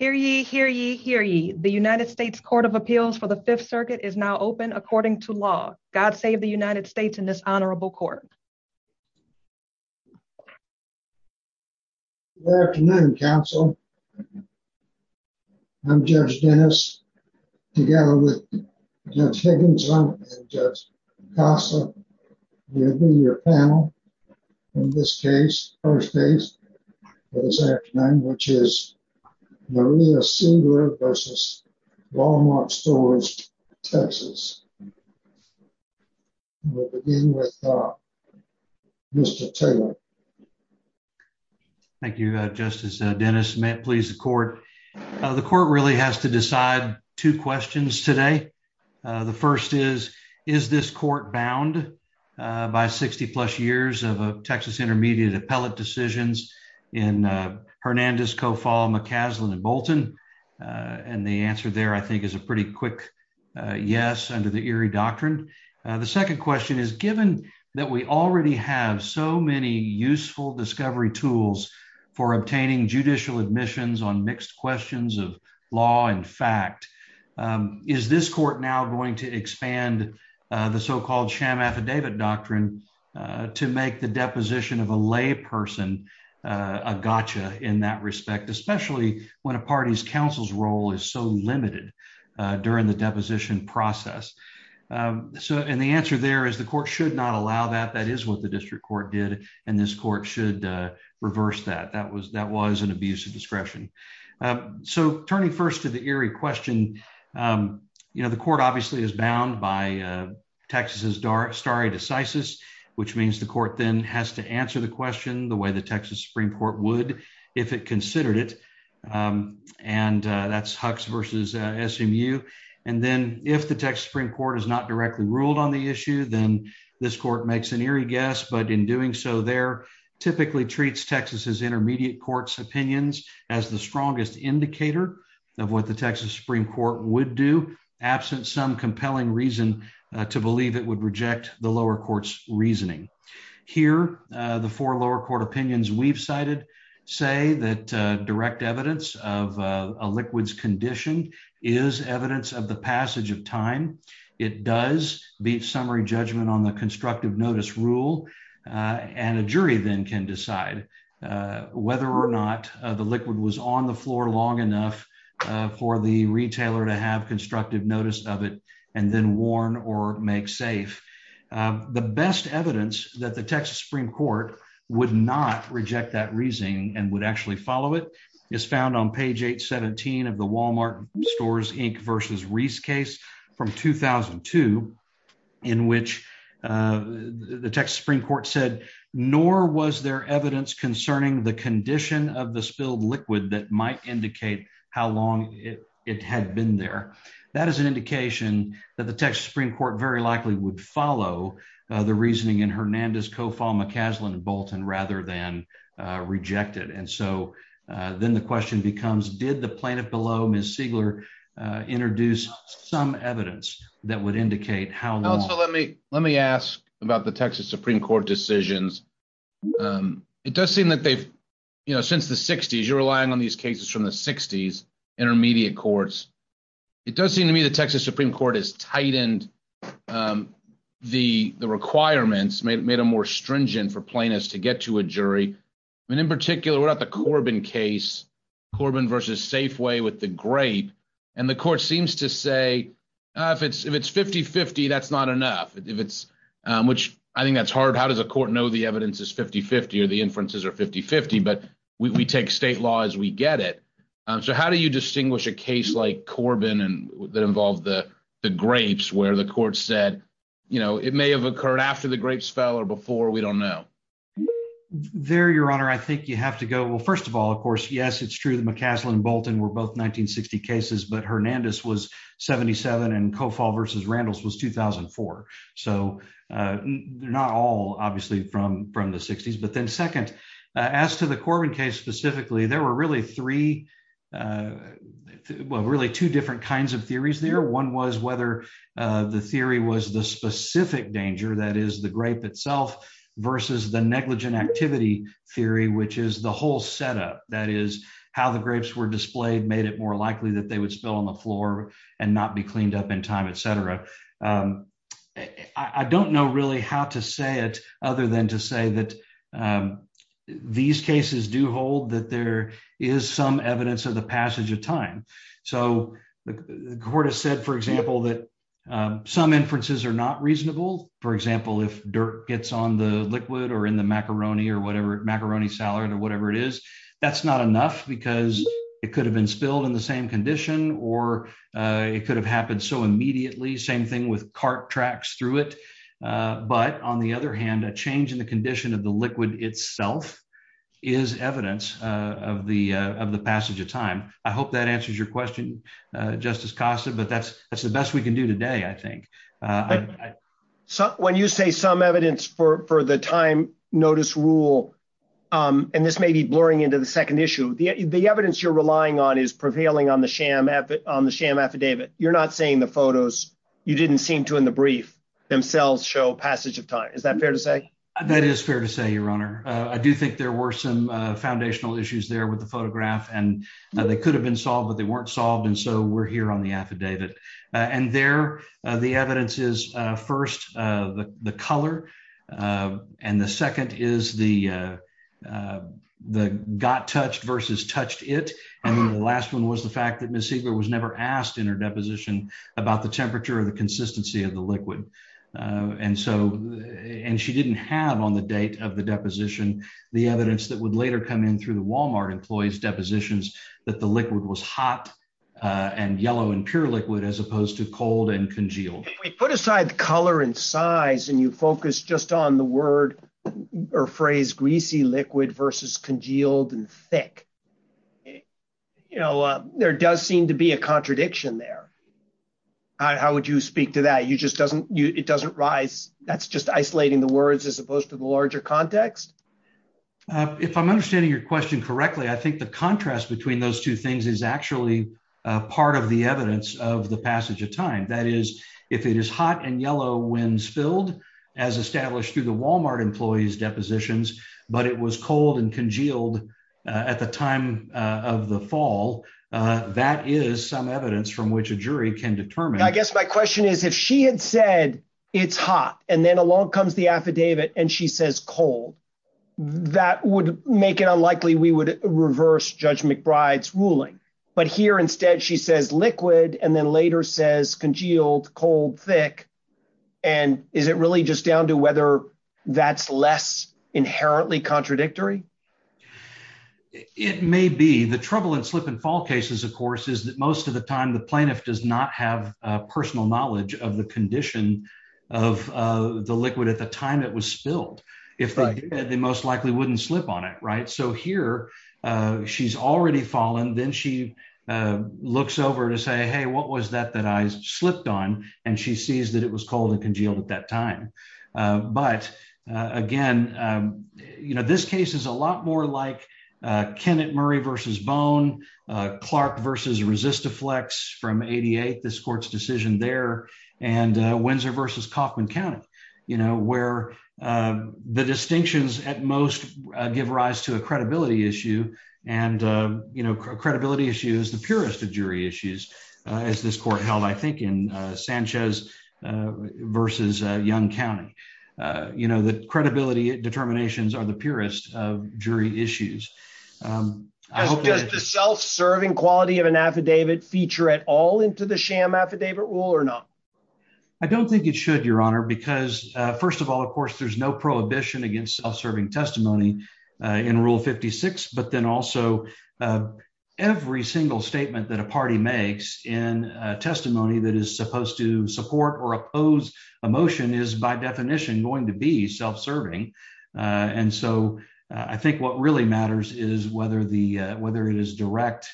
Hear ye, hear ye, hear ye. The United States Court of Appeals for the 5th Circuit is now open according to law. God save the United States in this honorable court. Good afternoon, counsel. I'm Judge Dennis, together with Judge Higginson and Judge Picasso. We'll be your panel in this case, first case for this afternoon, which is Maria Seigler v. Wal-Mart Stores TX. We'll begin with Mr. Taylor. Thank you, Justice Dennis. May it please the court. The court really has to decide two questions today. The first is, is this court bound by 60-plus years of Texas Intermediate appellate decisions in Hernandez, Kofall, McCaslin, and Bolton? And the answer there, I think, is a pretty quick yes under the Erie Doctrine. The second question is, given that we already have so many useful discovery tools for obtaining judicial admissions on mixed questions of law and fact, is this court now going to expand the so-called sham affidavit doctrine to make the deposition of a lay person a gotcha in that respect, especially when a party's counsel's role is so limited during the deposition process? And the answer there is the court should not allow that. That is what the district court did. And this court should reverse that. That was an abuse of discretion. So turning first to the Erie question, you know, the court obviously is bound by Texas's stare decisis, which means the court then has to answer the question the way the Texas Supreme Court would if it considered it. And that's Hux versus SMU. And then if the Texas Supreme Court has not directly ruled on the issue, then this court makes an eerie guess. But in doing so, there typically treats Texas's intermediate court's opinions as the strongest indicator of what the Texas Supreme Court would do, absent some compelling reason to believe it would reject the lower court's reasoning. Here, the four lower court opinions we've cited say that direct evidence of a liquid's condition is evidence of the passage of time. It does beat summary judgment on the constructive notice rule. And a jury then can decide whether or not the liquid was on the floor long enough for the retailer to have constructive notice of it and then warn or make safe. The best evidence that the Texas Supreme Court would not reject that reasoning and would actually follow it is found on page 817 of the Walmart Stores Inc. versus Reese case from 2002, in which the Texas Supreme Court said, nor was there evidence concerning the condition of the spilled liquid that might indicate how long it had been there. That is an indication that the Texas Supreme Court very likely would follow the reasoning in Hernandez, Kofall, McCaslin, and Bolton rather than reject it. And so then the question becomes, did the plaintiff below, Ms. Siegler, introduce some evidence that would indicate how long? Let me ask about the Texas Supreme Court decisions. It does seem that they've, you know, since the 60s, you're relying on these cases from the 60s, intermediate courts. It does seem to me the Texas Supreme Court has tightened the requirements, made them more stringent for plaintiffs to get to a jury. I mean, in particular, what about the Corbin case, Corbin versus Safeway with the grape? And the court seems to say, if it's 50-50, that's not enough, which I think that's hard. How does a court know the evidence is 50-50 or the inferences are 50-50? But we take state law as we get it. So how do you distinguish a case like Corbin that involved the grapes where the court said, you know, it may have occurred after the grapes fell or before, we don't know? There, Your Honor, I think you have to go. Well, first of all, of course, yes, it's true that McCaslin and Bolton were both 1960 cases, but Hernandez was 77 and Cofall versus Randles was 2004. So they're not all obviously from the 60s. But then second, as to the Corbin case specifically, there were really three, well, really two different kinds of theories there. One was whether the theory was the specific danger, that is the grape itself, versus the negligent activity theory, which is the whole setup. That is, how the grapes were displayed made it more likely that they would spill on the floor and not be cleaned up in time, et cetera. I don't know really how to say it other than to say that these cases do hold that there is some evidence of the passage of time. So the court has said, for example, that some inferences are not reasonable. For example, if dirt gets on the liquid or in the macaroni or whatever macaroni salad or whatever it is, that's not enough because it could have been spilled in the same condition or it could have happened so immediately. Same thing with cart tracks through it. But on the other hand, a change in the condition of the liquid itself is evidence of the passage of time. I hope that answers your question, Justice Costa, but that's the best we can do today, I think. When you say some evidence for the time notice rule, and this may be blurring into the second issue, the evidence you're relying on is prevailing on the sham affidavit. You're not saying the photos you didn't seem to in the brief themselves show passage of time. Is that fair to say? That is fair to say, Your Honor, I do think there were some foundational issues there with the photograph and they could have been solved but they weren't solved and so we're here on the affidavit. And there, the evidence is first, the color. And the second is the, the got touched versus touched it. And the last one was the fact that Miss Siegler was never asked in her deposition about the temperature of the consistency of the liquid. And so, and she didn't have on the date of the deposition, the evidence that would later come in through the Walmart employees depositions that the liquid was hot and yellow and pure liquid as opposed to cold and congealed. We put aside the color and size and you focus just on the word or phrase greasy liquid versus congealed and thick. You know, there does seem to be a contradiction there. How would you speak to that you just doesn't, it doesn't rise, that's just isolating the words as opposed to the larger context. If I'm understanding your question correctly I think the contrast between those two things is actually part of the evidence of the passage of time that is, if it is hot and yellow when spilled as established through the Walmart employees depositions, but it was cold and congealed. At the time of the fall. That is some evidence from which a jury can determine I guess my question is if she had said, it's hot, and then along comes the affidavit and she says cold. That would make it unlikely we would reverse judge McBride's ruling, but here instead she says liquid and then later says congealed cold thick. And is it really just down to whether that's less inherently contradictory. It may be the trouble and slip and fall cases of course is that most of the time the plaintiff does not have personal knowledge of the condition of the liquid at the time it was spilled. If they most likely wouldn't slip on it right so here. She's already fallen then she looks over to say hey what was that that I slipped on, and she sees that it was cold and congealed at that time. But, again, you know this case is a lot more like Kenneth Murray versus bone Clark versus resist a flex from at this court's decision there, and Windsor versus Kaufman County, you know where the distinctions, at most, give rise to a credibility You know the credibility determinations are the purest of jury issues. Self serving quality of an affidavit feature at all into the sham affidavit rule or not. I don't think it should your honor because, first of all, of course, there's no prohibition against self serving testimony in rule 56 but then also every single statement that a party makes in testimony that is supposed to support or oppose emotion is by definition going to be self serving. And so I think what really matters is whether the, whether it is direct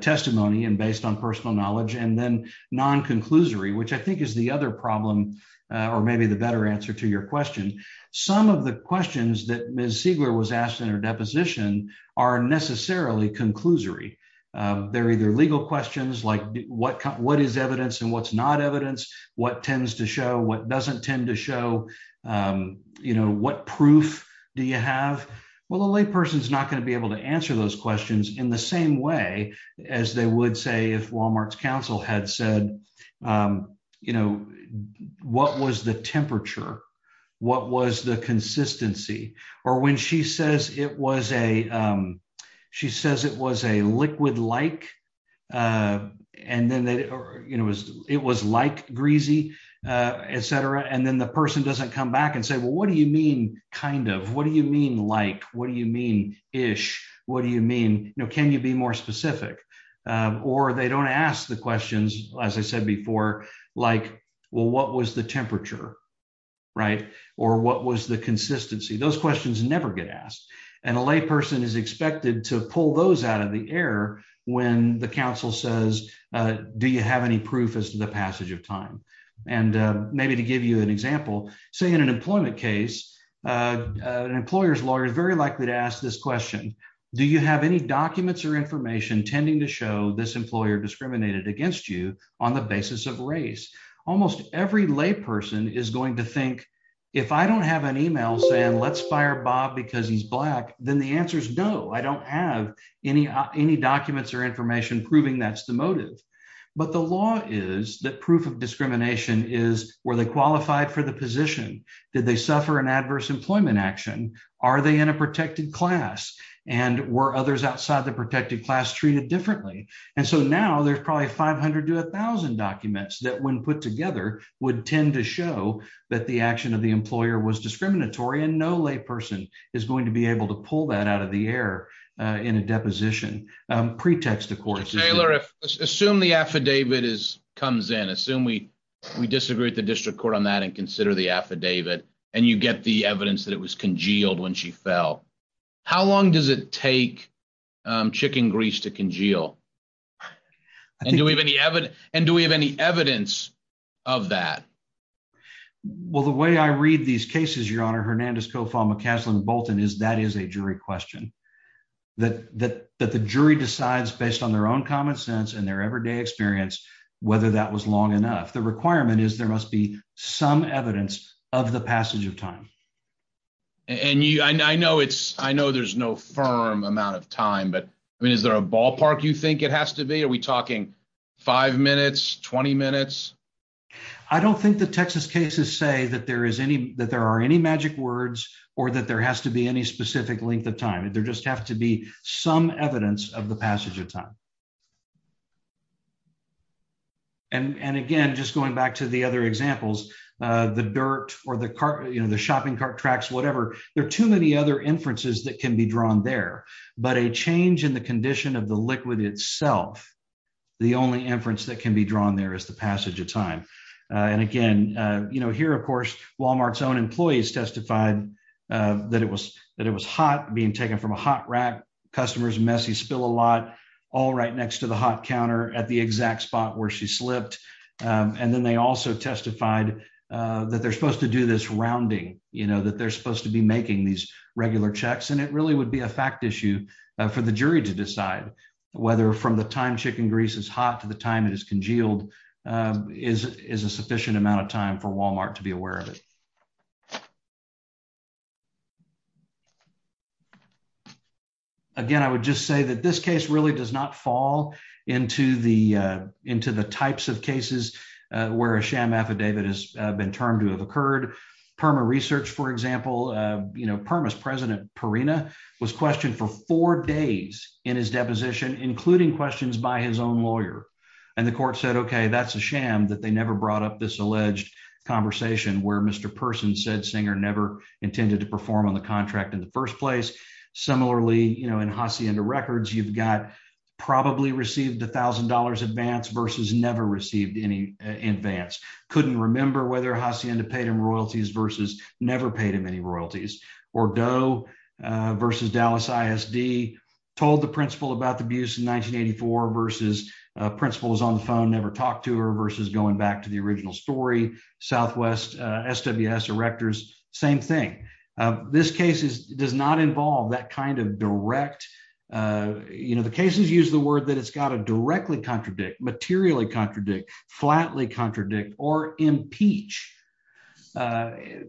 testimony and based on personal knowledge and then non conclusory which I think is the other problem, or maybe the better answer to your question. Some of the questions that Miss Siegler was asked in her deposition are necessarily conclusory. They're either legal questions like what what is evidence and what's not evidence, what tends to show what doesn't tend to show you know what proof. Do you have well the lay person is not going to be able to answer those questions in the same way as they would say if Walmart's counsel had said, you know, what was the temperature. What was the consistency, or when she says it was a. She says it was a liquid like, and then they, you know, it was like greasy, etc. And then the person doesn't come back and say well what do you mean, kind of, what do you mean like, what do you mean, ish. What do you mean, you know, can you be more specific, or they don't ask the questions, as I said before, like, well what was the temperature. Right. Or what was the consistency those questions never get asked, and a lay person is expected to pull those out of the air. When the council says, Do you have any proof as to the passage of time, and maybe to give you an example, say in an employment case, an employer's lawyer is very likely to ask this question. Do you have any documents or information tending to show this employer discriminated against you on the basis of race, almost every lay person is going to think, if I don't have an email saying let's fire Bob because he's black, then the answer is no, I don't have any, any documents or information proving that's the motive. But the law is that proof of discrimination is where they qualified for the position that they suffer an adverse employment action. Are they in a protected class, and were others outside the protected class treated differently. And so now there's probably 500 to 1000 documents that when put together would tend to show that the action of the employer was discriminatory and no lay person is going to be able to pull that out of the air in a deposition pretext of course Taylor assume the affidavit is comes in assume we we disagree with the district court on that and consider the affidavit, and you get the evidence that it was congealed when she fell. How long does it take chicken grease to congeal. And do we have any evidence, and do we have any evidence of that. Well, the way I read these cases your honor Hernandez Kofal McCaslin Bolton is that is a jury question that that that the jury decides based on their own common sense and their everyday experience, whether that was long enough the requirement is there must be some evidence of the passage of time. And you I know it's, I know there's no firm amount of time but I mean is there a ballpark you think it has to be are we talking five minutes 20 minutes. I don't think the Texas cases say that there is any that there are any magic words, or that there has to be any specific length of time and there just have to be some evidence of the passage of time. And again just going back to the other examples, the dirt, or the car, you know the shopping cart tracks whatever there too many other inferences that can be drawn there, but a change in the condition of the liquid itself. The only inference that can be drawn there is the passage of time. And again, you know here of course Walmart's own employees testified that it was that it was hot being taken from a hot rack customers messy spill a lot. All right next to the hot counter at the exact spot where she slipped. And then they also testified that they're supposed to do this rounding, you know that they're supposed to be making these regular checks and it really would be a fact issue for the jury to decide whether from the time chicken grease is hot to the time it is congealed is is a sufficient amount of time for Walmart to be aware of it. Thank you. Again, I would just say that this case really does not fall into the into the types of cases where a sham affidavit has been termed to have occurred. In particular, perma research for example, you know permis president Perina was questioned for four days in his deposition, including questions by his own lawyer, and the court said okay that's a sham that they never brought up this alleged conversation where Mr person said singer never intended to perform on the contract in the first place. Similarly, you know in Hacienda records you've got probably received $1,000 advance versus never received any advance couldn't remember whether Hacienda paid him royalties versus never paid him any royalties or dough versus Dallas ISD told the principal about the abuse in 1984 versus principles on the phone never talked to her versus going back to the original story, Southwest sws directors, same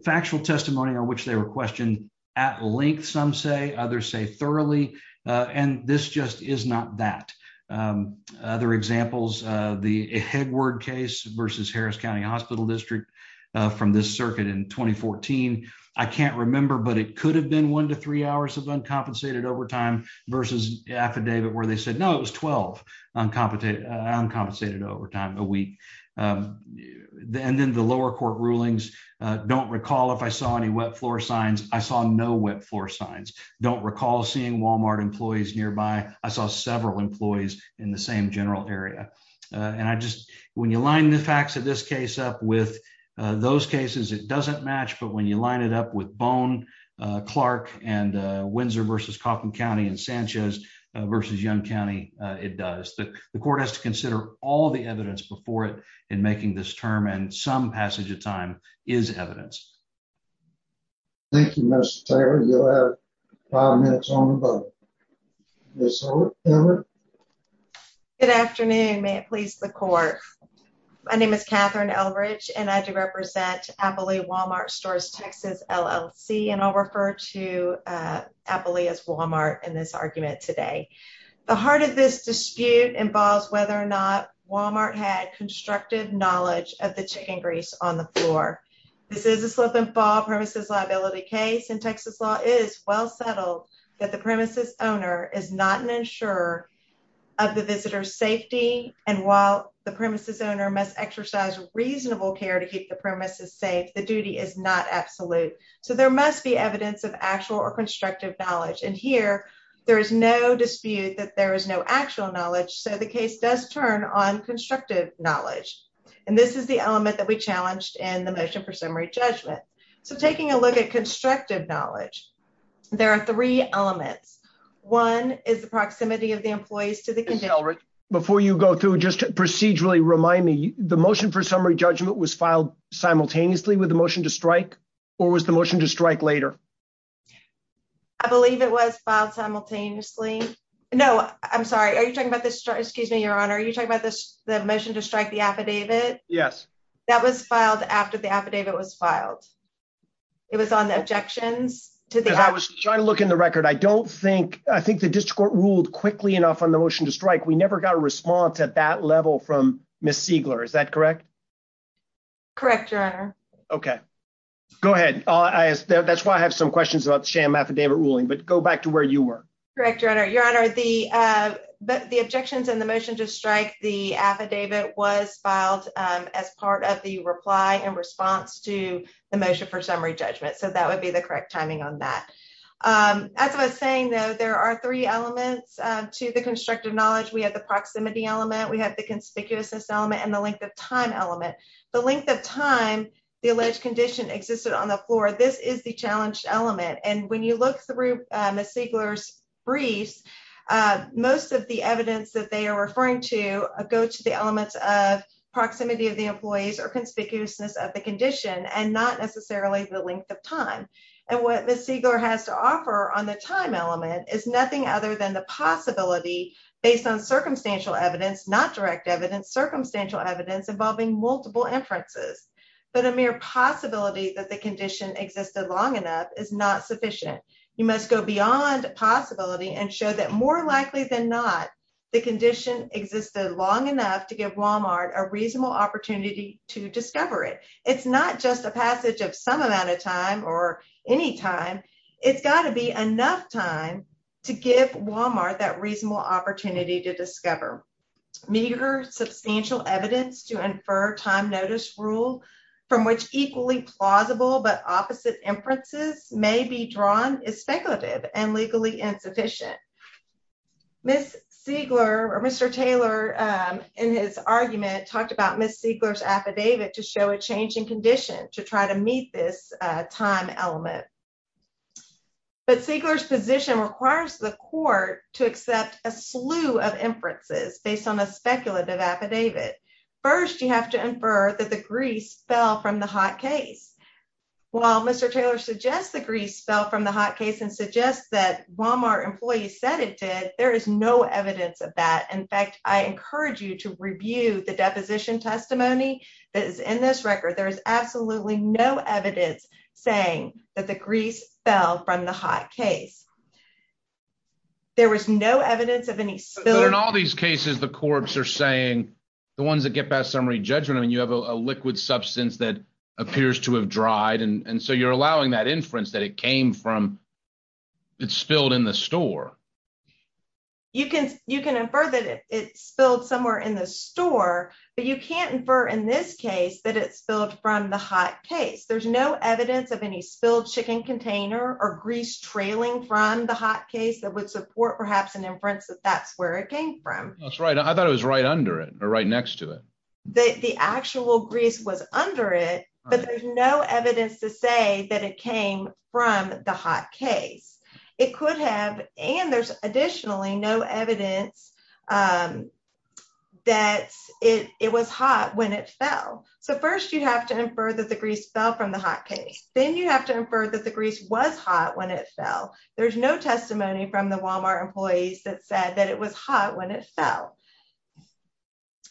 factual testimony on which they were questioned at length some say others say thoroughly, and this just is not that other examples, the head word case versus Harris County Hospital District from this circuit in 2014. I can't remember but it could have been one to three hours of uncompensated overtime versus affidavit where they said no it was 12 uncompetent uncompensated overtime a week. And then the lower court rulings. Don't recall if I saw any wet floor signs, I saw no wet floor signs. Don't recall seeing Walmart employees nearby. I saw several employees in the same general area. And I just, when you line the facts of this case up with those cases it doesn't match but when you line it up with bone Clark and Windsor versus Kaufman County and Sanchez versus young county, it does the court has to consider all the evidence before it and making this term and some passage of time is evidence. Thank you. You have five minutes on this. Good afternoon, may it please the court. My name is Catherine L rich and I do represent Apple a Walmart stores, Texas, LLC and I'll refer to Apple as Walmart in this argument today. The heart of this dispute involves whether or not Walmart had constructive knowledge of the chicken grease on the floor. This is a slip and fall premises liability case in Texas law is well settled that the premises owner is not an insurer of the visitor safety, and while the premises owner must exercise reasonable care to keep the premises safe the duty is not absolute. So there must be evidence of actual or constructive knowledge and here, there is no dispute that there is no actual knowledge so the case does turn on constructive knowledge. And this is the element that we challenged and the motion for summary judgment. So taking a look at constructive knowledge. There are three elements. One is the proximity of the employees to the before you go through just procedurally remind me, the motion for summary judgment was filed simultaneously with the motion to strike, or was the motion to strike later. I believe it was filed simultaneously. No, I'm sorry, are you talking about this, excuse me, Your Honor, are you talking about this, the motion to strike the affidavit. Yes, that was filed after the affidavit was filed. It was on the objections to the I was trying to look in the record I don't think I think the district court ruled quickly enough on the motion to strike we never got a response at that level from Miss Siegler Is that correct. Correct. Okay, go ahead. That's why I have some questions about sham affidavit ruling but go back to where you were. Correct, Your Honor, Your Honor, the, the objections and the motion to strike the affidavit was filed as part of the reply and response to the motion for summary judgment so that would be the correct timing on that. As I was saying, though, there are three elements to the constructive knowledge we have the proximity element we have the conspicuousness element and the length of time element, the length of time, the alleged condition existed on the floor. This is the challenge element and when you look through Miss Siegler's briefs. Most of the evidence that they are referring to go to the elements of proximity of the employees or conspicuousness of the condition and not necessarily the length of time. And what Miss Siegler has to offer on the time element is nothing other than the possibility, based on circumstantial evidence not direct evidence circumstantial evidence involving multiple inferences, but a mere possibility that the condition existed long enough is not sufficient. You must go beyond possibility and show that more likely than not, the condition existed long enough to give Walmart a reasonable opportunity to discover it. It's not just a passage of some amount of time or any time. It's got to be enough time to give Walmart that reasonable opportunity to discover. Meager substantial evidence to infer time notice rule from which equally plausible but opposite inferences may be drawn is speculative and legally insufficient. Miss Siegler or Mr. Taylor in his argument talked about Miss Siegler's affidavit to show a change in condition to try to meet this time element. But Siegler's position requires the court to accept a slew of inferences based on a speculative affidavit. First, you have to infer that the grease fell from the hot case. While Mr. Taylor suggests the grease fell from the hot case and suggests that Walmart employees said it did, there is no evidence of that. In fact, I encourage you to review the deposition testimony that is in this record. There is absolutely no evidence saying that the grease fell from the hot case. There was no evidence of any spill. But in all these cases, the corpse are saying the ones that get past summary judgment, I mean, you have a liquid substance that appears to have dried and so you're allowing that inference that it came from, it spilled in the store. You can infer that it spilled somewhere in the store, but you can't infer in this case that it spilled from the hot case. There's no evidence of any spilled chicken container or grease trailing from the hot case that would support perhaps an inference that that's where it came from. That's right. I thought it was right under it or right next to it. The actual grease was under it, but there's no evidence to say that it came from the hot case. It could have, and there's additionally no evidence that it was hot when it fell. So first you have to infer that the grease fell from the hot case. Then you have to infer that the grease was hot when it fell. There's no testimony from the Walmart employees that said that it was hot when it fell.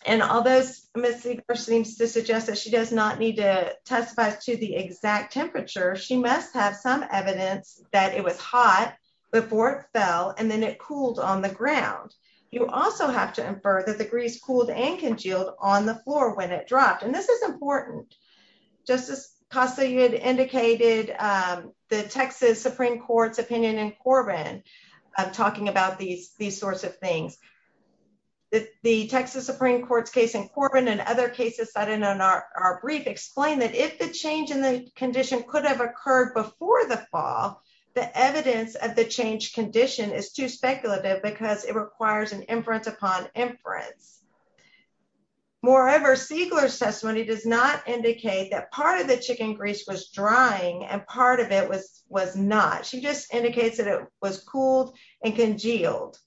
And although Ms. Sieger seems to suggest that she does not need to testify to the exact temperature, she must have some evidence that it was hot before it fell and then it cooled on the ground. You also have to infer that the grease cooled and congealed on the floor when it dropped. And this is important. Justice Costa, you had indicated the Texas Supreme Court's opinion in Corbin talking about these sorts of things. The Texas Supreme Court's case in Corbin and other cases cited in our brief explain that if the change in the condition could have occurred before the fall, the evidence of the change condition is too speculative because it requires an inference upon inference. Moreover, Siegler's testimony does not indicate that part of the chicken grease was drying and part of it was not. She just indicates that it was cooled and congealed.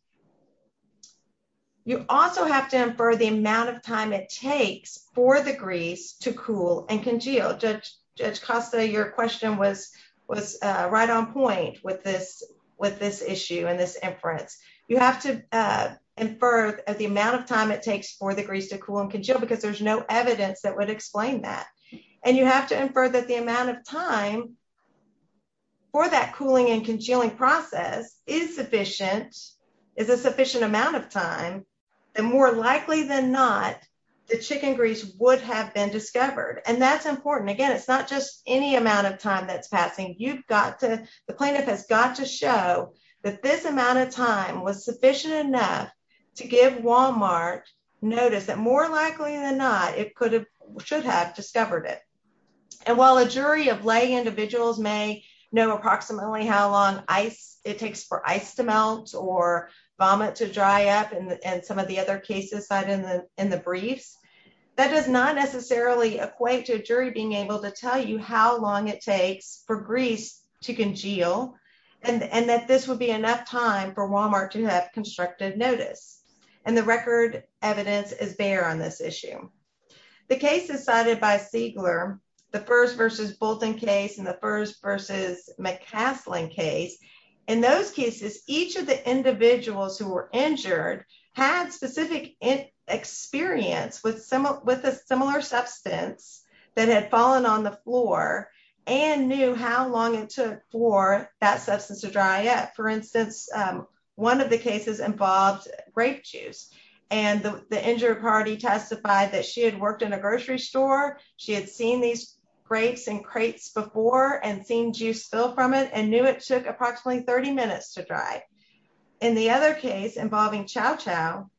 You also have to infer the amount of time it takes for the grease to cool and congeal. Judge Costa, your question was right on point with this issue and this inference. You have to infer the amount of time it takes for the grease to cool and congeal because there's no evidence that would explain that. And you have to infer that the amount of time for that cooling and congealing process is sufficient, is a sufficient amount of time. And more likely than not, the chicken grease would have been discovered. And that's important. Again, it's not just any amount of time that's passing. You've got to, the plaintiff has got to show that this amount of time was sufficient enough to give Walmart notice that more likely than not, it could have, should have discovered it. And while a jury of lay individuals may know approximately how long it takes for ice to melt or vomit to dry up and some of the other cases cited in the briefs, that does not necessarily equate to a jury being able to tell you how long it takes for grease to congeal and that this would be enough time for Walmart to have constructive notice. And the record evidence is bare on this issue. The cases cited by Siegler, the first versus Bolton case and the first versus McCaslin case, in those cases, each of the individuals who were injured had specific experience with a similar substance that had fallen on the floor and knew how long it took for that substance to dry up. For instance, one of the cases involved grape juice and the injured party testified that she had worked in a grocery store. She had seen these grapes and crates before and seen juice spill from it and knew it took approximately 30 minutes to dry. In the other case involving chow chow,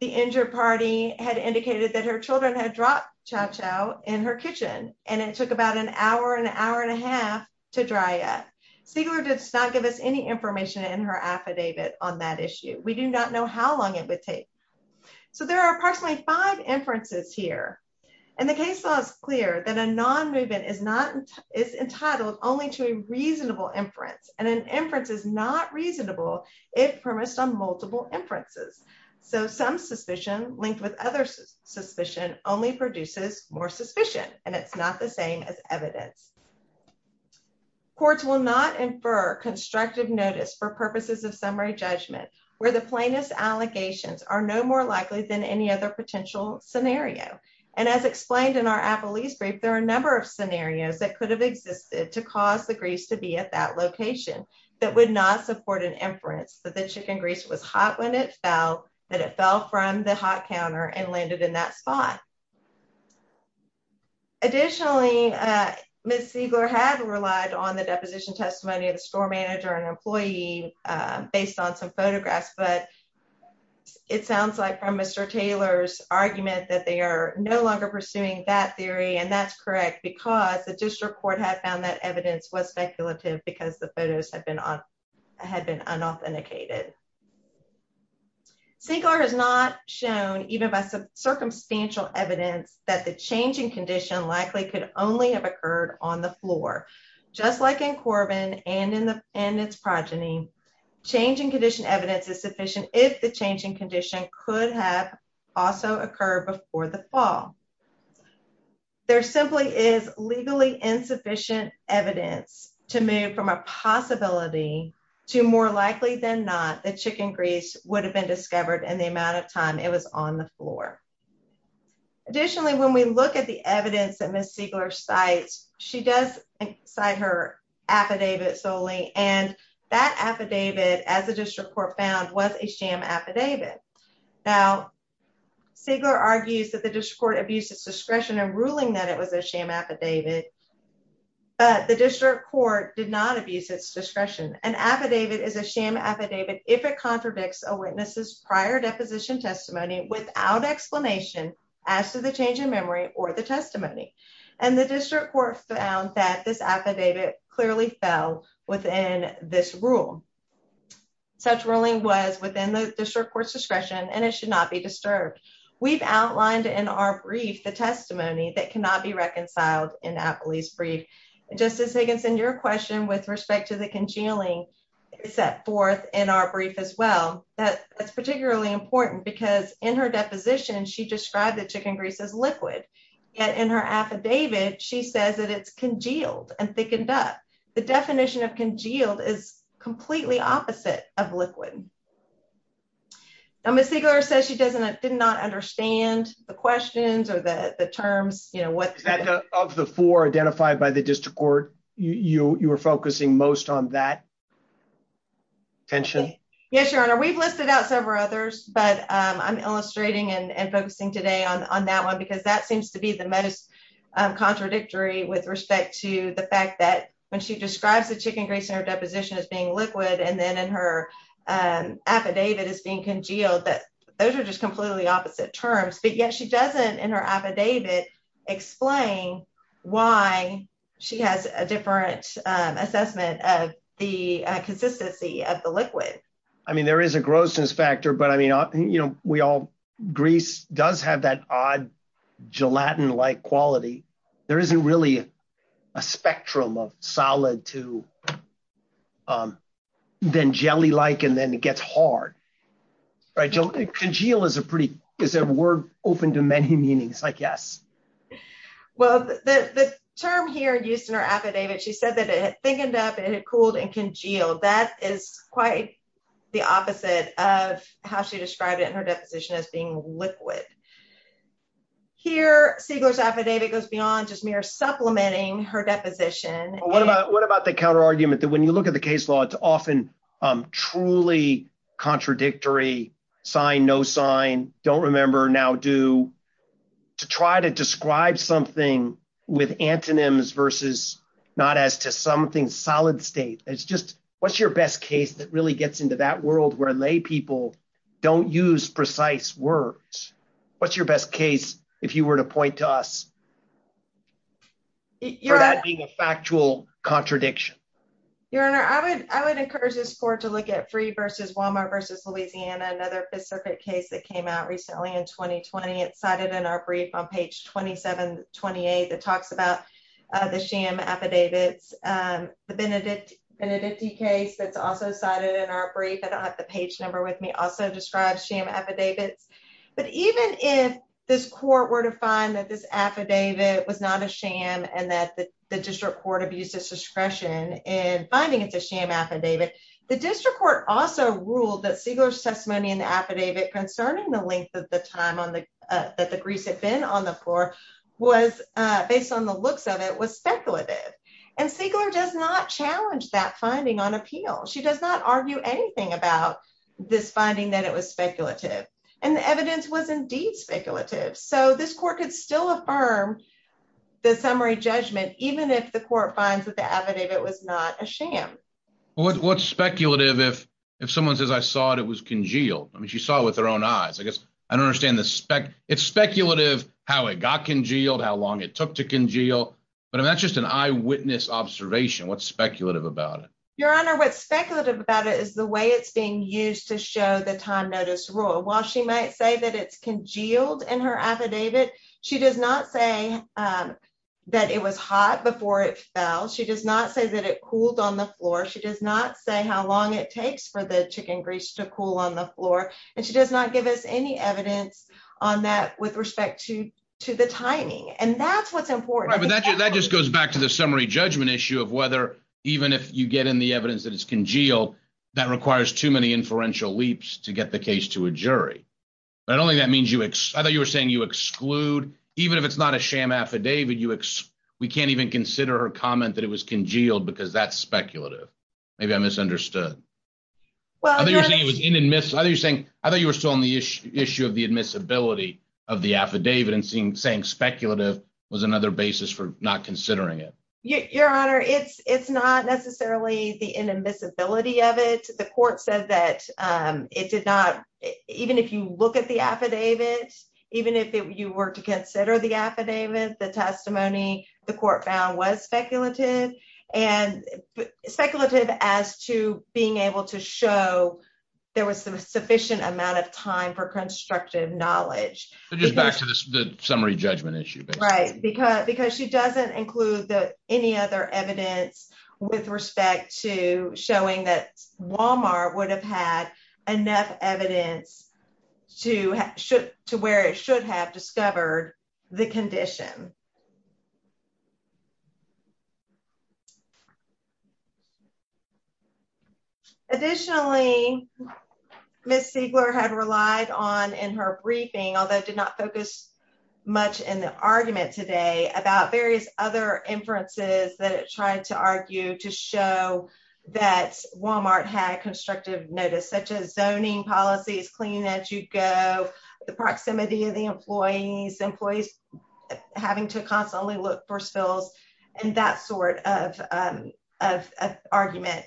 the injured party had indicated that her children had dropped chow chow in her kitchen and it took about an hour, an hour and a half to dry up. Siegler did not give us any information in her affidavit on that issue. We do not know how long it would take. So there are approximately five inferences here and the case law is clear that a non-movement is entitled only to a reasonable inference and an inference is not reasonable if premised on multiple inferences. So some suspicion linked with other suspicion only produces more suspicion and it's not the same as evidence. Courts will not infer constructive notice for purposes of summary judgment where the plaintiff's allegations are no more likely than any other potential scenario. And as explained in our appellee's brief, there are a number of scenarios that could have existed to cause the grease to be at that location that would not support an inference that the chicken grease was hot when it fell, that it fell from the hot counter and landed in that spot. Additionally, Ms. Siegler had relied on the deposition testimony of the store manager and employee based on some photographs, but it sounds like from Mr. Taylor's argument that they are no longer pursuing that theory and that's correct because the district court had found that evidence was speculative because the photos had been unauthenticated. Siegler has not shown, even by some circumstantial evidence, that the changing condition likely could only have occurred on the floor, just like in Corbin and in its progeny, changing condition evidence is sufficient if the changing condition could have also occurred before the fall. There simply is legally insufficient evidence to move from a possibility to more likely than not the chicken grease would have been discovered in the amount of time it was on the floor. Additionally, when we look at the evidence that Ms. Siegler cites, she does cite her affidavit solely and that affidavit as the district court found was a sham affidavit. Now, Siegler argues that the district court abused its discretion in ruling that it was a sham affidavit, but the district court did not abuse its discretion. An affidavit is a sham affidavit if it contradicts a witness's prior deposition testimony without explanation as to the change in memory or the testimony, and the district court found that this affidavit clearly fell within this rule. Such ruling was within the district court's discretion and it should not be disturbed. We've outlined in our brief the testimony that cannot be reconciled in Appley's brief. Justice Higginson, your question with respect to the congealing is set forth in our brief as well. That's particularly important because in her deposition, she described the chicken grease as liquid. Yet in her affidavit, she says that it's congealed and thickened up. The definition of congealed is completely opposite of liquid. Now, Ms. Siegler says she did not understand the questions or the terms. Of the four identified by the district court, you were focusing most on that tension? Yes, Your Honor. We've listed out several others, but I'm illustrating and focusing today on that one because that seems to be the most contradictory with respect to the fact that when she describes the chicken grease in her deposition as being liquid and then in her affidavit as being congealed, those are just completely opposite terms. But yet she doesn't in her affidavit explain why she has a different assessment of the consistency of the liquid. I mean, there is a grossness factor, but I mean, you know, grease does have that odd gelatin-like quality. There isn't really a spectrum of solid to then jelly-like and then it gets hard. Congeal is a word open to many meanings, I guess. Well, the term here used in her affidavit, she said that it thickened up, it had cooled and congealed. That is quite the opposite of how she described it in her deposition as being liquid. Here, Siegler's affidavit goes beyond just mere supplementing her deposition. What about the counterargument that when you look at the case law, it's often truly contradictory, sign, no sign, don't remember, now do, to try to describe something with antonyms versus not as to something solid state. It's just, what's your best case that really gets into that world where lay people don't use precise words? What's your best case, if you were to point to us, for that being a factual contradiction? Your Honor, I would encourage this court to look at Free v. Walmart v. Louisiana, another specific case that came out recently in 2020. It's cited in our brief on page 2728 that talks about the sham affidavits. The Benedicti case that's also cited in our brief, I don't have the page number with me, also describes sham affidavits. But even if this court were to find that this affidavit was not a sham and that the district court abused its discretion in finding it's a sham affidavit, the district court also ruled that Siegler's testimony in the affidavit concerning the length of the time that the grease had been on the floor was, based on the looks of it, was speculative. Siegler does not challenge that finding on appeal. She does not argue anything about this finding that it was speculative. And the evidence was indeed speculative. So this court could still affirm the summary judgment, even if the court finds that the affidavit was not a sham. What's speculative if someone says, I saw it, it was congealed? I mean, she saw it with her own eyes. I guess I don't understand the spec. It's speculative how it got congealed, how long it took to congeal. But that's just an eyewitness observation. What's speculative about it? Your Honor, what's speculative about it is the way it's being used to show the time notice rule. While she might say that it's congealed in her affidavit, she does not say that it was hot before it fell. She does not say that it cooled on the floor. She does not say how long it takes for the chicken grease to cool on the floor. And she does not give us any evidence on that with respect to the timing. And that's what's important. Right, but that just goes back to the summary judgment issue of whether, even if you get in the evidence that it's congealed, that requires too many inferential leaps to get the case to a jury. I don't think that means you, I thought you were saying you exclude, even if it's not a sham affidavit, we can't even consider her comment that it was congealed because that's speculative. Maybe I misunderstood. I thought you were saying, I thought you were still on the issue of the admissibility of the affidavit and saying speculative was another basis for not considering it. Your Honor, it's not necessarily the inadmissibility of it. The court said that it did not, even if you look at the affidavit, even if you were to consider the affidavit, the testimony the court found was speculative and speculative as to being able to show there was a sufficient amount of time for constructive knowledge. Just back to the summary judgment issue. Right, because she doesn't include any other evidence with respect to showing that Walmart would have had enough evidence to where it should have discovered the condition. Additionally, Ms. Siegler had relied on in her briefing, although it did not focus much in the argument today, about various other inferences that it tried to argue to show that Walmart had constructive notice, such as zoning policies, cleaning as you go, the proximity of the employees, having to constantly look for spills, and that sort of argument.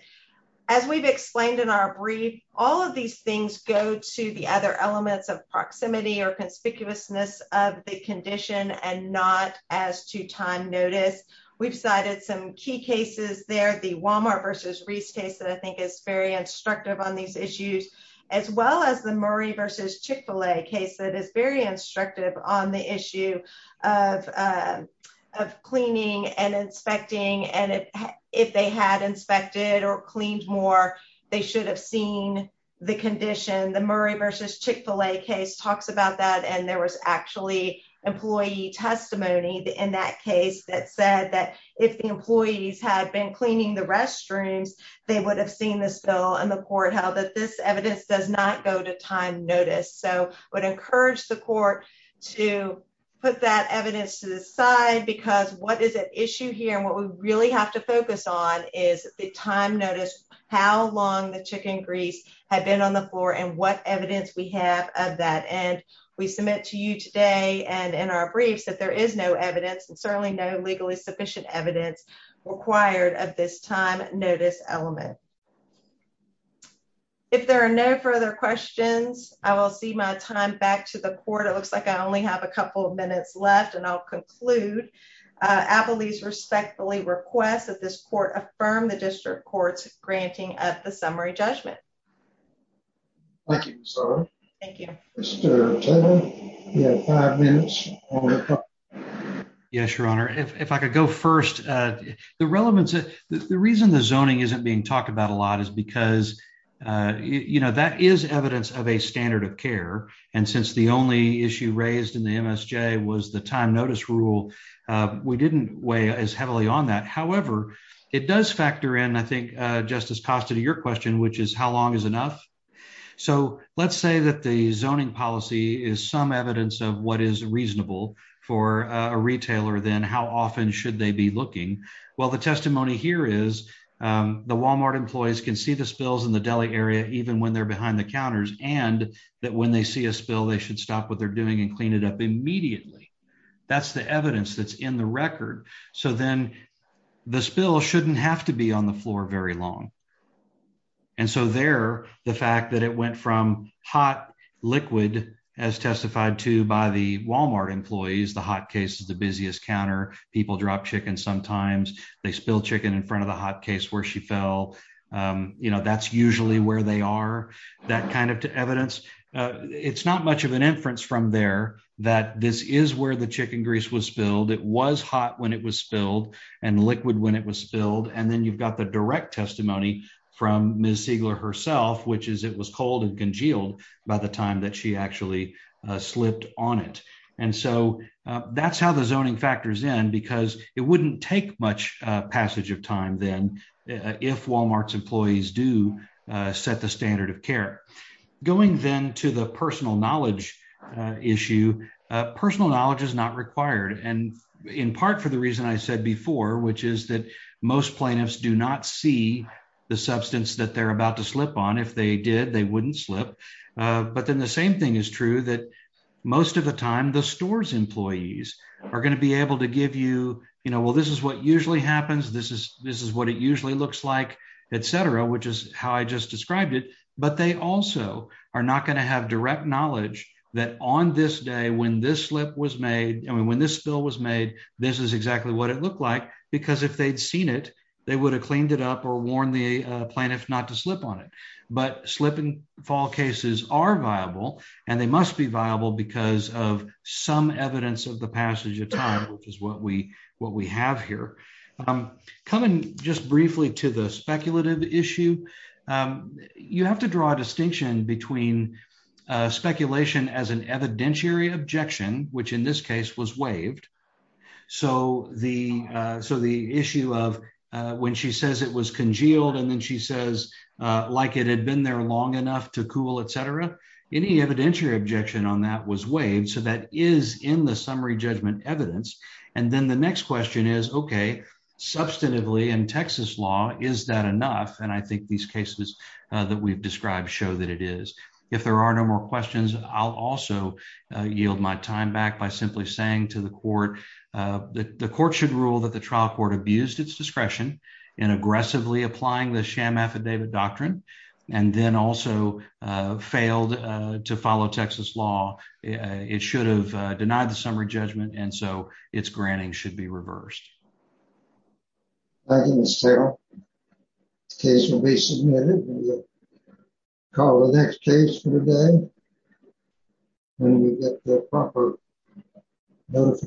As we've explained in our brief, all of these things go to the other elements of proximity or conspicuousness of the condition and not as to time notice. We've cited some key cases there, the Walmart versus Reese case that I think is very instructive on these issues, as well as the Murray versus Chick-fil-A case that is very instructive on the issue of cleaning and inspecting, and if they had inspected or cleaned more, they should have seen the condition. The Murray versus Chick-fil-A case talks about that, and there was actually employee testimony in that case that said that if the employees had been cleaning the restrooms, they would have seen the spill, and the court held that this evidence does not go to time notice. So I would encourage the court to put that evidence to the side, because what is at issue here and what we really have to focus on is the time notice, how long the chicken grease had been on the floor, and what evidence we have of that. And we submit to you today and in our briefs that there is no evidence, and certainly no legally sufficient evidence required of this time notice element. If there are no further questions, I will cede my time back to the court. It looks like I only have a couple of minutes left, and I'll conclude. Applebee's respectfully requests that this court affirm the district court's granting of the summary judgment. Thank you, Ms. Arden. Thank you. Mr. Turner, you have five minutes. Yes, Your Honor. If I could go first. The reason the zoning isn't being talked about a lot is because that is evidence of a standard of care, and since the only issue raised in the MSJ was the time notice rule, we didn't weigh as heavily on that. However, it does factor in, I think, Justice Costa, to your question, which is how long is enough? So let's say that the zoning policy is some evidence of what is reasonable for a retailer, then how often should they be looking? Well, the testimony here is the Walmart employees can see the spills in the deli area even when they're behind the counters, and that when they see a spill, they should stop what they're doing and clean it up immediately. That's the evidence that's in the record. So then the spill shouldn't have to be on the floor very long. And so there, the fact that it went from hot, liquid, as testified to by the Walmart employees, the hot case is the busiest counter, people drop chicken sometimes, they spill chicken in front of the hot case where she fell, that's usually where they are, that kind of evidence. It's not much of an inference from there that this is where the chicken grease was spilled, it was hot when it was spilled and liquid when it was spilled, and then you've got the direct testimony from Ms. Siegler herself, which is it was cold and congealed by the time that she actually slipped on it. And so that's how the zoning factors in because it wouldn't take much passage of time then, if Walmart's employees do set the standard of care. Going then to the personal knowledge issue, personal knowledge is not required. And in part for the reason I said before, which is that most plaintiffs do not see the substance that they're about to slip on. If they did, they wouldn't slip. But then the same thing is true that most of the time the stores employees are going to be able to give you, well, this is what usually happens, this is what it usually looks like, et cetera, which is how I just described it, but they also are not going to have direct knowledge that on this day when this slip was made, I mean, when this spill was made, this is exactly what it looked like, because if they'd seen it, they would have cleaned it up or warned the plaintiff not to slip on it. But slip and fall cases are viable, and they must be viable because of some evidence of the passage of time, which is what we have here. Coming just briefly to the speculative issue, you have to draw a distinction between speculation as an evidentiary objection, which in this case was waived. So the issue of when she says it was congealed, and then she says like it had been there long enough to cool, et cetera, any evidentiary objection on that was waived. So that is in the summary judgment evidence. And then the next question is, okay, substantively in Texas law, is that enough? These cases that we've described show that it is. If there are no more questions, I'll also yield my time back by simply saying to the court that the court should rule that the trial court abused its discretion in aggressively applying the sham affidavit doctrine and then also failed to follow Texas law. It should have denied the summary judgment, and so its granting should be reversed. Thank you, Ms. Carroll. The case will be submitted. We'll call the next case for the day when we get the proper notification.